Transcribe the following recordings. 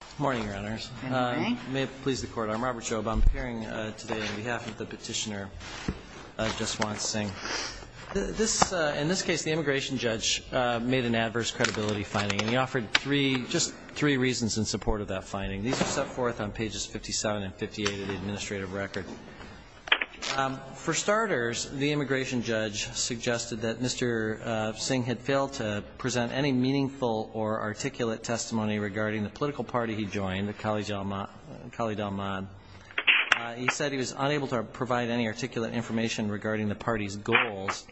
Good morning, Your Honors. Good morning. May it please the Court, I'm Robert Job. I'm appearing today on behalf of the Petitioner, Juswant Singh. This – in this case, the immigration judge made an adverse credibility finding, and he offered three – just three reasons in support of that finding. These are set forth on pages 57 and 58 of the administrative record. For starters, the immigration judge suggested that Mr. Singh had failed to present any meaningful or articulate testimony regarding the political party he joined, the Cali del Mad. He said he was unable to provide any articulate information regarding the party's goals,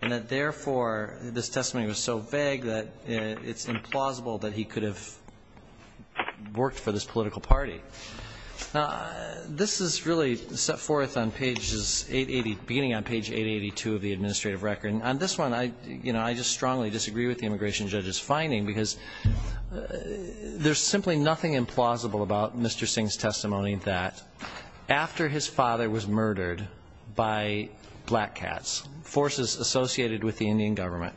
and that therefore, this testimony was so vague that it's implausible that he could have worked for this political party. Now, this is really set forth on pages 880 – beginning on page 882 of the administrative record. And on this one, I – you know, I just strongly disagree with the immigration judge's finding, because there's simply nothing implausible about Mr. Singh's testimony that, after his father was murdered by black cats, forces associated with the Indian government,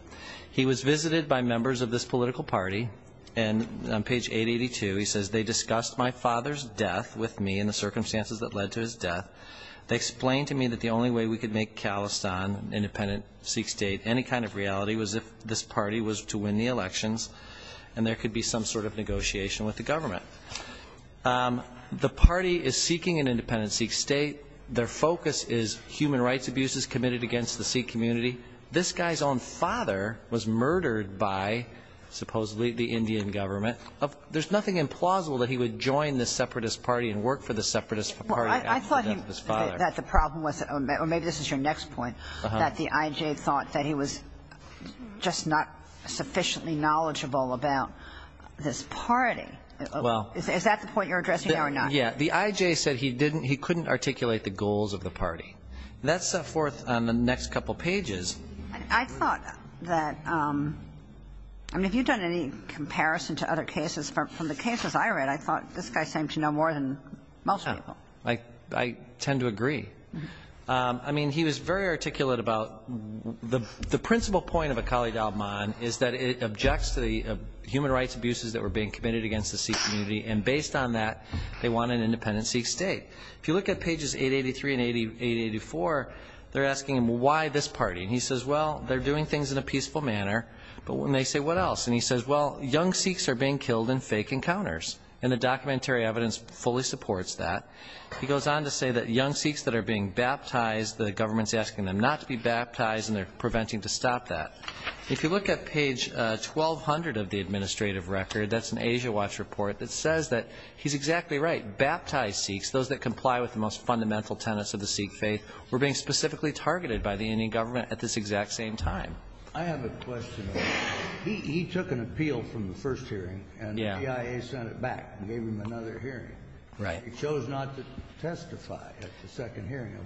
he was visited by members of this political party and on page 882, he says, they discussed my father's death with me and the circumstances that led to his death. They explained to me that the only way we could make Khalistan an independent Sikh state, any kind of negotiation with the government. The party is seeking an independent Sikh state. Their focus is human rights abuses committed against the Sikh community. This guy's own father was murdered by, supposedly, the Indian government. There's nothing implausible that he would join this separatist party and work for the separatist party after the death of his father. Well, I thought he – that the problem was – or maybe this is your next point, that the I.J. thought that he was just not sufficiently knowledgeable about this party. Is that the point you're addressing there or not? Yeah. The I.J. said he didn't – he couldn't articulate the goals of the party. That's set forth on the next couple pages. I thought that – I mean, have you done any comparison to other cases? From the cases I read, I thought this guy seemed to know more than most people. Yeah. I tend to agree. I mean, he was very articulate about – the principal point of Akali Dalman is that it objects to the human rights abuses that were being committed against the Sikh community and, based on that, they want an independent Sikh state. If you look at pages 883 and 884, they're asking him, well, why this party? And he says, well, they're doing things in a peaceful manner. But when they say, what else? And he says, well, young Sikhs are being killed in fake encounters. And the documentary evidence fully supports that. He goes on to say that young Sikhs that are being killed are not to be baptized and they're preventing to stop that. If you look at page 1200 of the administrative record, that's an Asia Watch report that says that he's exactly right. Baptized Sikhs, those that comply with the most fundamental tenets of the Sikh faith, were being specifically targeted by the Indian government at this exact same time. I have a question. He took an appeal from the first hearing and the BIA sent it back and gave him another hearing. Right. He chose not to testify at the second hearing.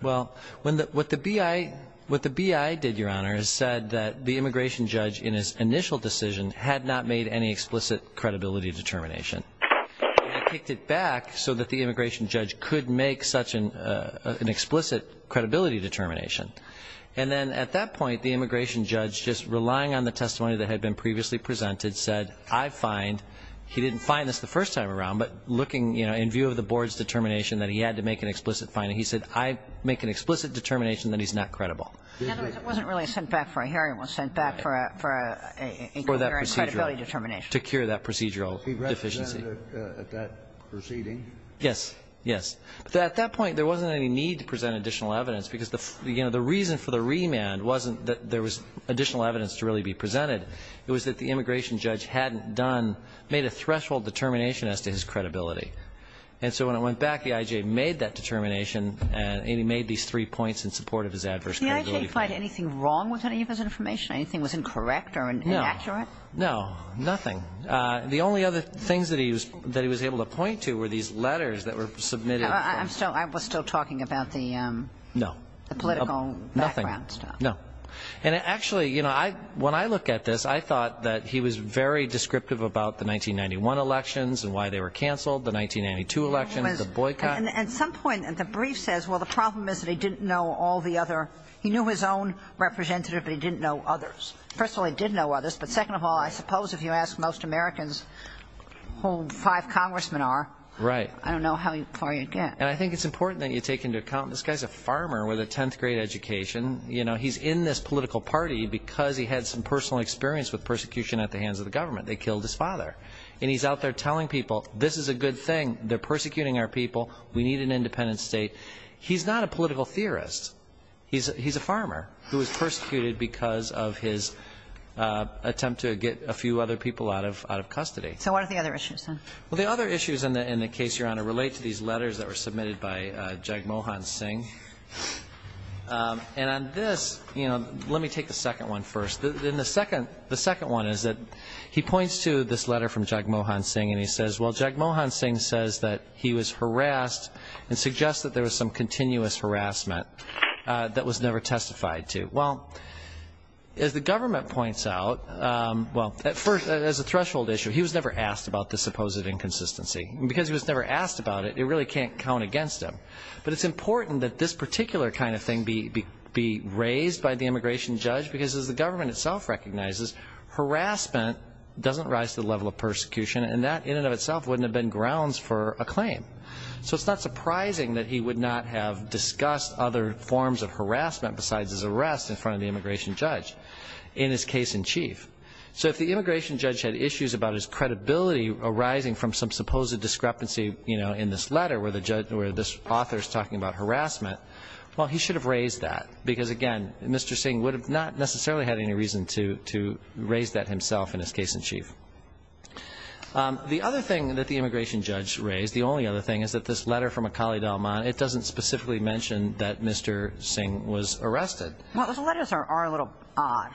Well, what the BIA did, Your Honor, is said that the immigration judge in his initial decision had not made any explicit credibility determination. They kicked it back so that the immigration judge could make such an explicit credibility determination. And then at that point, the immigration judge, just relying on the testimony that had been previously presented, said, I find he didn't find this the first time around, but looking in view of the board's determination that he had to make an explicit finding, he said, I make an explicit determination that he's not credible. In other words, it wasn't really sent back for a hearing. It was sent back for a credibility determination. To cure that procedural deficiency. He represented at that proceeding. Yes. Yes. But at that point, there wasn't any need to present additional evidence, because the reason for the remand wasn't that there was additional evidence to really be presented. It was that the immigration judge hadn't done, made a threshold determination as to his credibility. And so when it went back, the I.J. made that determination and he made these three points in support of his adverse credibility finding. Did the I.J. find anything wrong with any of his information? Anything was incorrect or inaccurate? No. No. Nothing. The only other things that he was able to point to were these letters that were submitted. I'm still, I was still talking about the No. The political background stuff. No. And actually, you know, when I look at this, I thought that he was very descriptive about the 1991 elections and why they were canceled, the 1992 elections, the boycott. At some point, the brief says, well, the problem is that he didn't know all the other, he knew his own representative, but he didn't know others. First of all, he did know others, but second of all, I suppose if you ask most Americans whom five congressmen are, I don't know how far you'd get. And I think it's important that you take into account, this guy's a farmer with a 10th grade education. You know, he's in this political party because he had some personal experience with persecution at the hands of the government. They killed his father. And he's out there telling people, this is a good thing, they're persecuting our people, we need an independent state. He's not a political theorist. He's a farmer who was persecuted because of his attempt to get a few other people out of custody. So what are the other issues, then? Well, the other issues in the case, Your Honor, relate to these letters that were submitted by Jagmohan Singh. And on this, you know, let me take the second one first. The second one is that he points to this letter from Jagmohan Singh and he says, well, Jagmohan Singh says that he was harassed and suggests that there was some continuous harassment that was never testified to. Well, as the government points out, well, at first, as a threshold issue, he was never asked about this supposed inconsistency. And because he was never asked about it, it really can't count against him. But it's important that this particular kind of thing be raised by the immigration judge because as the government itself recognizes, harassment doesn't rise to the level of persecution, and that in and of itself wouldn't have been grounds for a claim. So it's not surprising that he would not have discussed other forms of harassment besides his arrest in front of the immigration judge in his case in chief. So if the immigration judge had issues about his credibility arising from some supposed discrepancy, you know, in this letter where this author is talking about harassment, well, he should have raised that because, again, Mr. Singh would have not necessarily had any reason to raise that himself in his case in chief. The other thing that the immigration judge raised, the only other thing, is that this letter from Akali Dalman, it doesn't specifically mention that Mr. Singh was arrested. Well, those letters are a little odd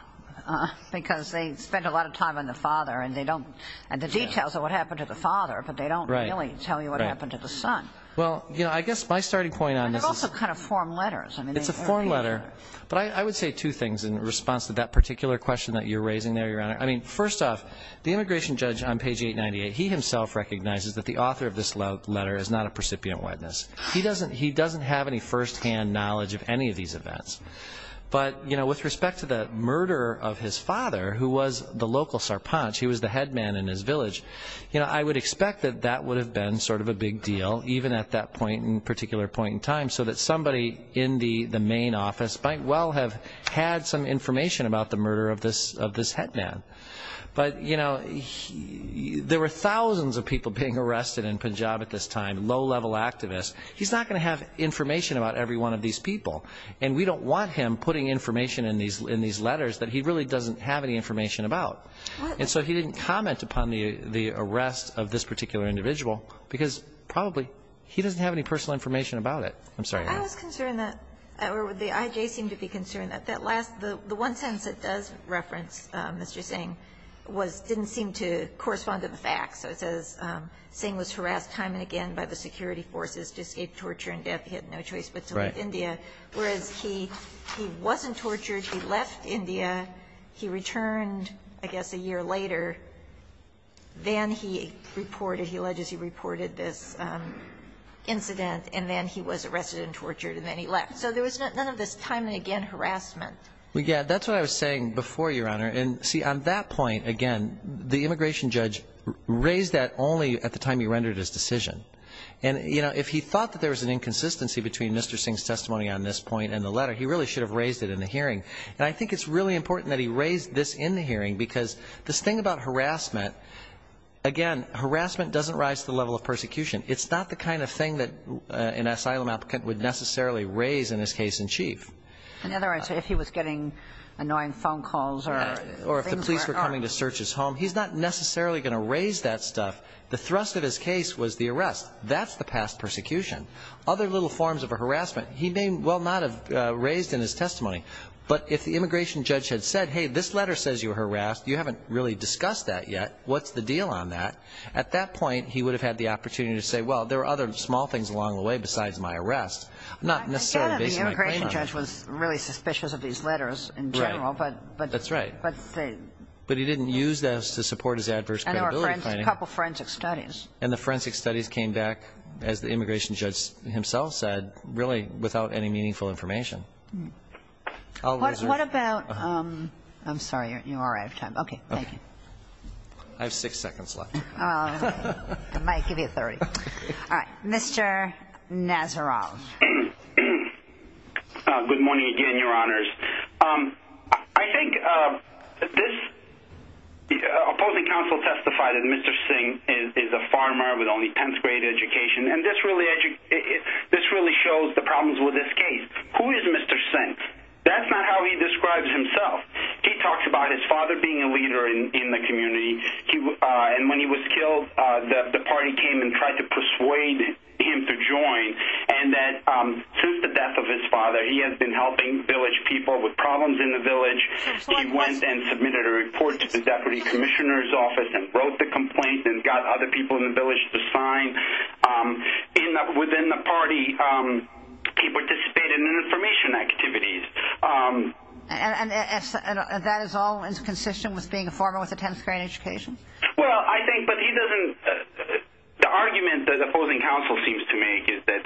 because they spend a lot of time on the father and the details of what happened to the father, but they don't really tell you what happened to the son. Well, you know, I guess my starting point on this is... And they're also kind of form letters. It's a form letter. But I would say two things in response to that particular question that you're raising there, Your Honor. I mean, first off, the immigration judge on page 898, he himself recognizes that the author of this letter is not a precipient witness. He doesn't have any firsthand knowledge of any of these events. But, you know, with respect to the murder of his father, who was the local Sarpanch, he was the head man in his village, you know, I would expect that that might well have had some information about the murder of this head man. But, you know, there were thousands of people being arrested in Punjab at this time, low-level activists. He's not going to have information about every one of these people, and we don't want him putting information in these letters that he really doesn't have any information about. And so he didn't comment upon the arrest of this particular individual because probably he doesn't have any personal information about it. I'm sorry, Your Honor. I was concerned that, or the IJ seemed to be concerned that that last, the one sentence that does reference Mr. Singh was didn't seem to correspond to the facts. So it says, Singh was harassed time and again by the security forces to escape torture and death. He had no choice but to leave India. Right. Whereas he wasn't tortured. He left India. He returned, I guess, a year later. Then he reported, he alleges he reported this incident, and then he was arrested and tortured, and then he left. So there was none of this time and again harassment. Well, yeah. That's what I was saying before, Your Honor. And, see, on that point, again, the immigration judge raised that only at the time he rendered his decision. And, you know, if he thought that there was an inconsistency between Mr. Singh's And I think it's really important that he raised this in the hearing because this thing about harassment, again, harassment doesn't rise to the level of persecution. It's not the kind of thing that an asylum applicant would necessarily raise in his case in chief. In other words, if he was getting annoying phone calls or things were Or if the police were coming to search his home. He's not necessarily going to raise that stuff. The thrust of his case was the arrest. That's the past persecution. Other little forms of harassment he may well not have raised in his testimony. But if the immigration judge had said, hey, this letter says you were harassed. You haven't really discussed that yet. What's the deal on that? At that point, he would have had the opportunity to say, well, there were other small things along the way besides my arrest. Not necessarily based on my claim. The immigration judge was really suspicious of these letters in general. Right. That's right. But he didn't use those to support his adverse credibility finding. And there were a couple of forensic studies. And the forensic studies came back, as the immigration judge himself said, really without any meaningful information. What about, I'm sorry, you're out of time. Okay. Thank you. I have six seconds left. I might give you 30. All right. Mr. Nazaroff. Good morning again, Your Honors. I think this opposing counsel testified that Mr. Singh is a farmer with only 10th grade education. And this really shows the problems with this case. Who is Mr. Singh? That's not how he describes himself. He talks about his father being a leader in the community. And when he was killed, the party came and tried to persuade him to join. And that since the death of his father, he has been helping village people with problems in the village. He went and submitted a report to the deputy commissioner's office and wrote the complaint and got other people in the village to sign. And within the party, he participated in information activities. And that is all consistent with being a farmer with a 10th grade education? Well, I think, but he doesn't, the argument that the opposing counsel seems to make is that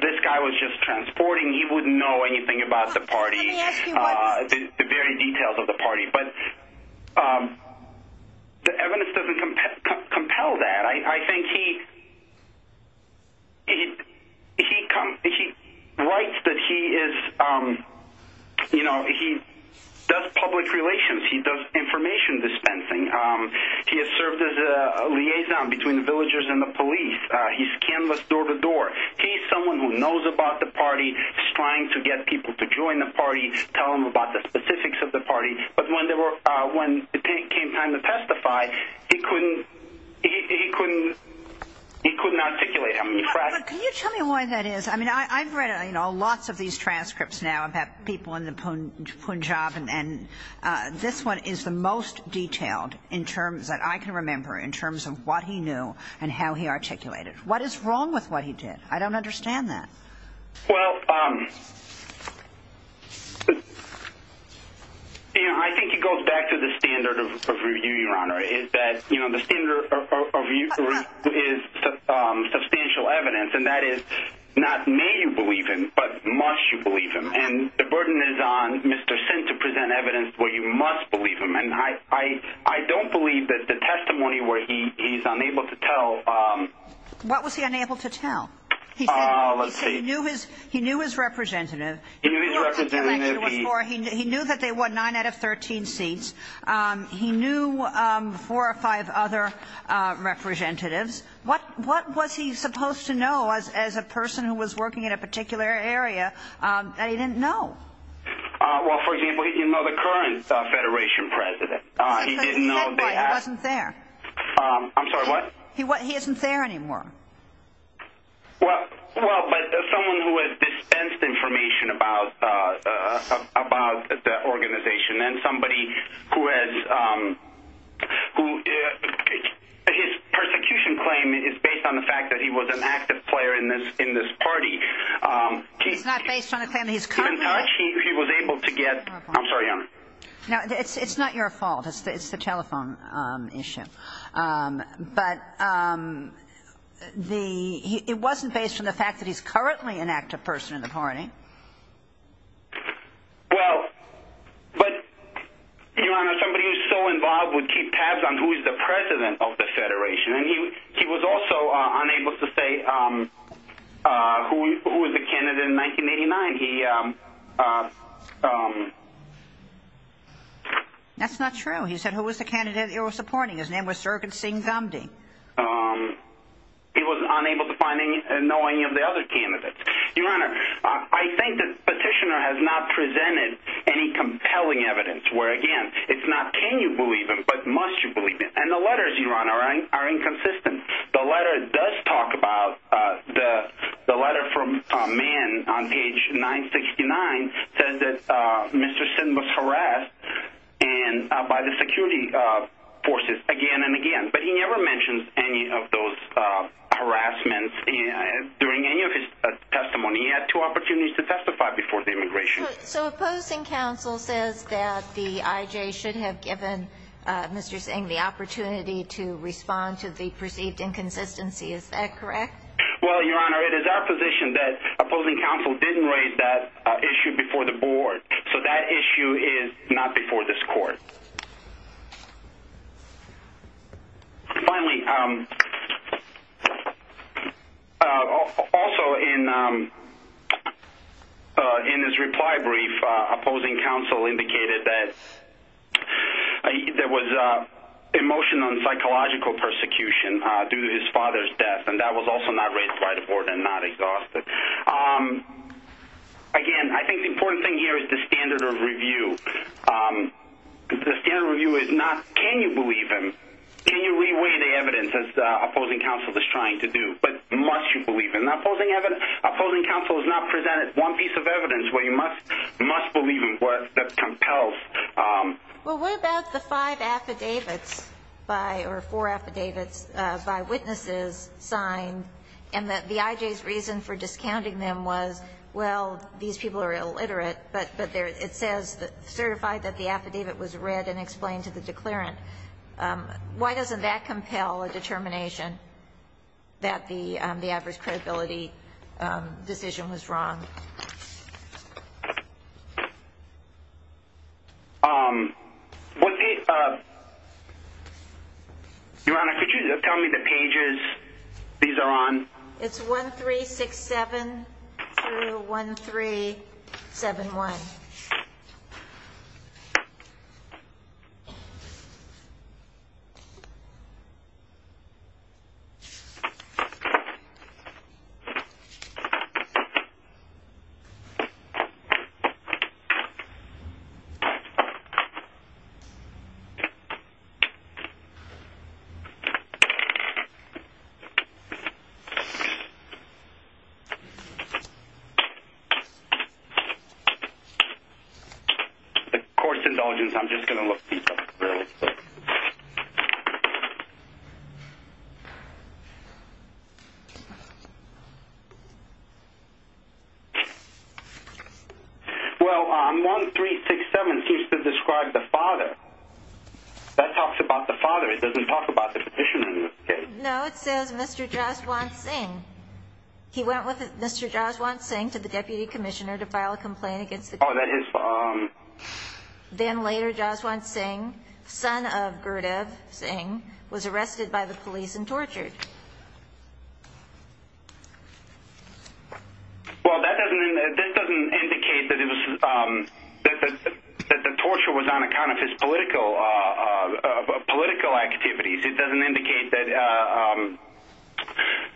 this guy was just transporting. He wouldn't know anything about the party, the very details of the party. But the evidence doesn't compel that. I think he writes that he does public relations. He does information dispensing. He has served as a liaison between the villagers and the police. He's canvassed door to door. He's someone who knows about the party, is trying to get people to join the party, tell them about the specifics of the party. But when it came time to testify, he couldn't, he couldn't, he couldn't articulate. Can you tell me why that is? I mean, I've read, you know, lots of these transcripts now about people in the Punjab and, and this one is the most detailed in terms that I can remember in terms of what he knew and how he articulated. What is wrong with what he did? I don't understand that. Well, I think it goes back to the standard of review, Your Honor, is that, you know, the standard of review is substantial evidence. And that is not may you believe him, but must you believe him. And the burden is on Mr. Sin to present evidence where you must believe him. And I, I, I don't believe that the testimony where he, he's unable to tell. He knew his, he knew his role. He knew his representative. He knew that they won nine out of 13 seats. He knew four or five other representatives. What, what was he supposed to know as, as a person who was working in a particular area that he didn't know? Well, for example, you know, the current federation president, he didn't know. He wasn't there. I'm sorry, what? He wasn't, he isn't there anymore. Well, well, but someone who has dispensed information about, about the organization and somebody who has, who his persecution claim is based on the fact that he was an active player in this, in this party. He's not based on a claim that he's covered. He was able to get, I'm sorry. No, it's, it's not your fault. It's the, it's the telephone issue. But the, it wasn't based on the fact that he's currently an active person in the party. Well, but your Honor, somebody who's so involved would keep tabs on who is the president of the federation. And he, he was also unable to say who, who was the candidate in 1989. He that's not true. He said, who was the candidate that you were supporting? His name was circuit scene. Um, he was unable to find any knowing of the other candidates. Your Honor. I think that petitioner has not presented any compelling evidence where again, it's not, can you believe him, but must you believe it? And the letters you run are, are inconsistent. The letter does talk about the, the letter from a man on page nine 69 says that Mr. Singh was harassed and by the security forces again and again, but he never mentioned any of those harassments during any of his testimony. He had two opportunities to testify before the immigration. So opposing council says that the IJ should have given Mr. Singh the opportunity to respond to the perceived inconsistency. Is that correct? Well, your Honor, it is our position that opposing council didn't raise that issue before the board. So that issue is not before this court. Finally, um, also in, um, uh, in his reply brief, uh, opposing council indicated that there was a emotion on psychological persecution, uh, due to his father's death and that was also not raised by the board and not exhausted. Um, again, I think the important thing here is the standard of review. Um, the standard review is not, can you believe him? Can you reweigh the evidence as the opposing council is trying to do, but must you believe in that opposing evidence? Opposing council has not presented one piece of evidence where you must, must believe in what that compels. Um, Well, what about the five affidavits by, or four affidavits, uh, by witnesses signed and that the IJ's reason for discounting them was, well, these people are illiterate, but, but there, it says that certified that the affidavit was read and explained to the declarant. Um, why doesn't that compel a determination that the, um, the adverse credibility, um, decision was wrong. Um, what the, uh, Your Honor, could you tell me the pages these are on? It's one, three, six, seven, one, three, seven, one. Okay. The court's indulgence. I'm just going to look. Well, um, one, three, six, seven seems to describe the father that talks about the father. It doesn't talk about the petition. No, it says Mr. Jaswant Singh. He went with Mr. Jaswant Singh to the deputy commissioner to file a complaint against the, then later Jaswant Singh son of Gurdev Singh was arrested by the police and tortured. Well, that doesn't, that doesn't indicate that it was, um, that the torture was on account of his political, uh, it doesn't indicate that, uh, um,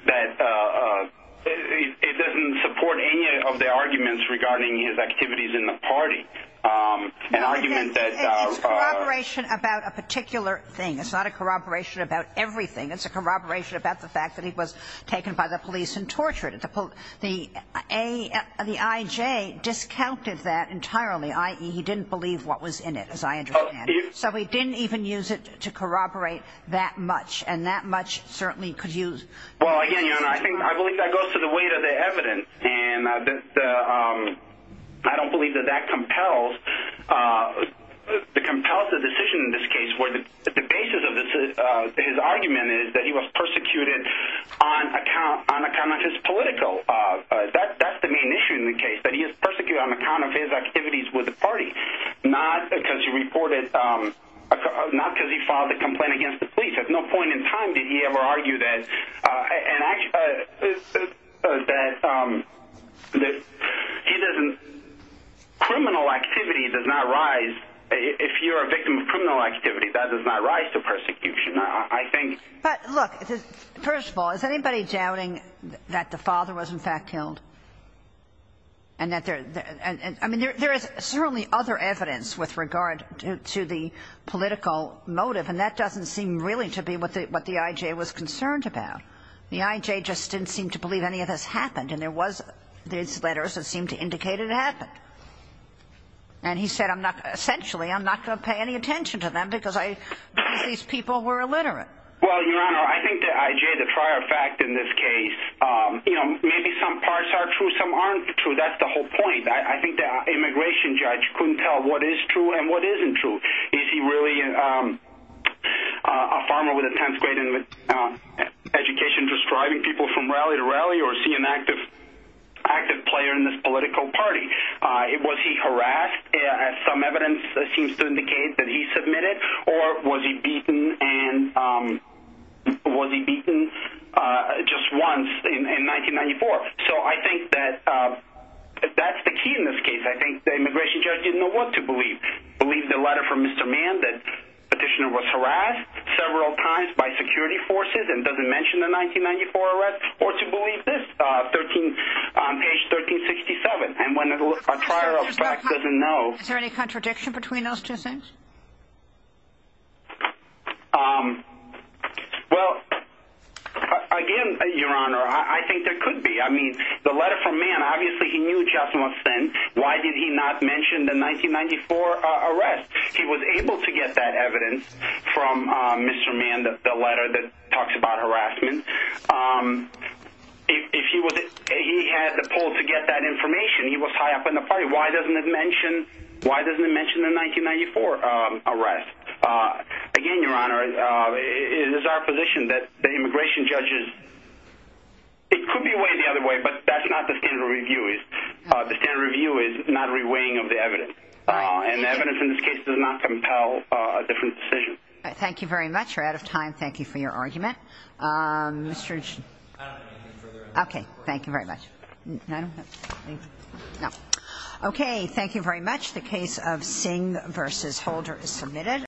that, uh, uh, it doesn't support any of the arguments regarding his activities in the party. Um, an argument that. Corroboration about a particular thing. It's not a corroboration about everything. It's a corroboration about the fact that he was taken by the police and tortured at the pool. The a, the IJ discounted that entirely. I, he didn't believe what was in it as I understand. So he didn't even use it to corroborate that much. And that much certainly could use. Well, again, I think, I believe that goes to the weight of the evidence and that the, um, I don't believe that that compels, uh, the compulsive decision in this case where the basis of this, uh, his argument is that he was persecuted on account, on account of his political, uh, uh, that, that's the main issue in the case that he has persecuted on account of his activities with the party. Not because you reported, um, not because he filed a complaint against the police at no point in time. Did he ever argue that, uh, and actually, uh, that, um, that he doesn't criminal activity does not rise. If you're a victim of criminal activity that does not rise to persecution. I think, but look, first of all, is anybody doubting that the father was in fact killed and that there, and I mean, there, there is certainly other evidence with regard to the political motive. And that doesn't seem really to be what the, what the IJ was concerned about. The IJ just didn't seem to believe any of this happened. And there was these letters that seemed to indicate it happened. And he said, I'm not, essentially I'm not going to pay any attention to them because I, these people were illiterate. Well, your Honor, I think the IJ, the prior fact in this case, um, you know, maybe some parts are true. Some aren't true. That's the whole point. I think the immigration judge couldn't tell what is true and what isn't true. Is he really, um, uh, a farmer with a 10th grade in education, just driving people from rally to rally or see an active, active player in this political party? Uh, it was, he harassed, as some evidence seems to indicate that he submitted or was he beaten and, um, was he beaten, uh, just once in, in 1994. So I think that, um, that's the key in this case. I think the immigration judge didn't know what to believe, believe the letter from Mr. Mann that petitioner was harassed several times by security forces and doesn't mention the 1994 arrest or to believe this, uh, 13, um, page 1367. And when a trial of fact doesn't know, is there any contradiction between those two things? Um, well, again, your Honor, I think there could be, I mean the letter from man, obviously he knew Justin was sent. Why did he not mention the 1994 arrest? He was able to get that evidence from, um, Mr. Mann, the letter that talks about harassment. Um, if he was, he had the pull to get that information. He was high up in the party. Why doesn't it mention, why doesn't it mention the 1994, um, arrest? Uh, again, your Honor, uh, it is our position that the immigration judges, it could be way the other way, but that's not the standard review is, uh, the standard review is not reweighing of the evidence. Uh, and the evidence in this case does not compel a different decision. Thank you very much. You're out of time. Thank you for your argument. Um, Mr. Okay. Thank you very much. Okay. Thank you very much. The case of Singh versus Holder is submitted.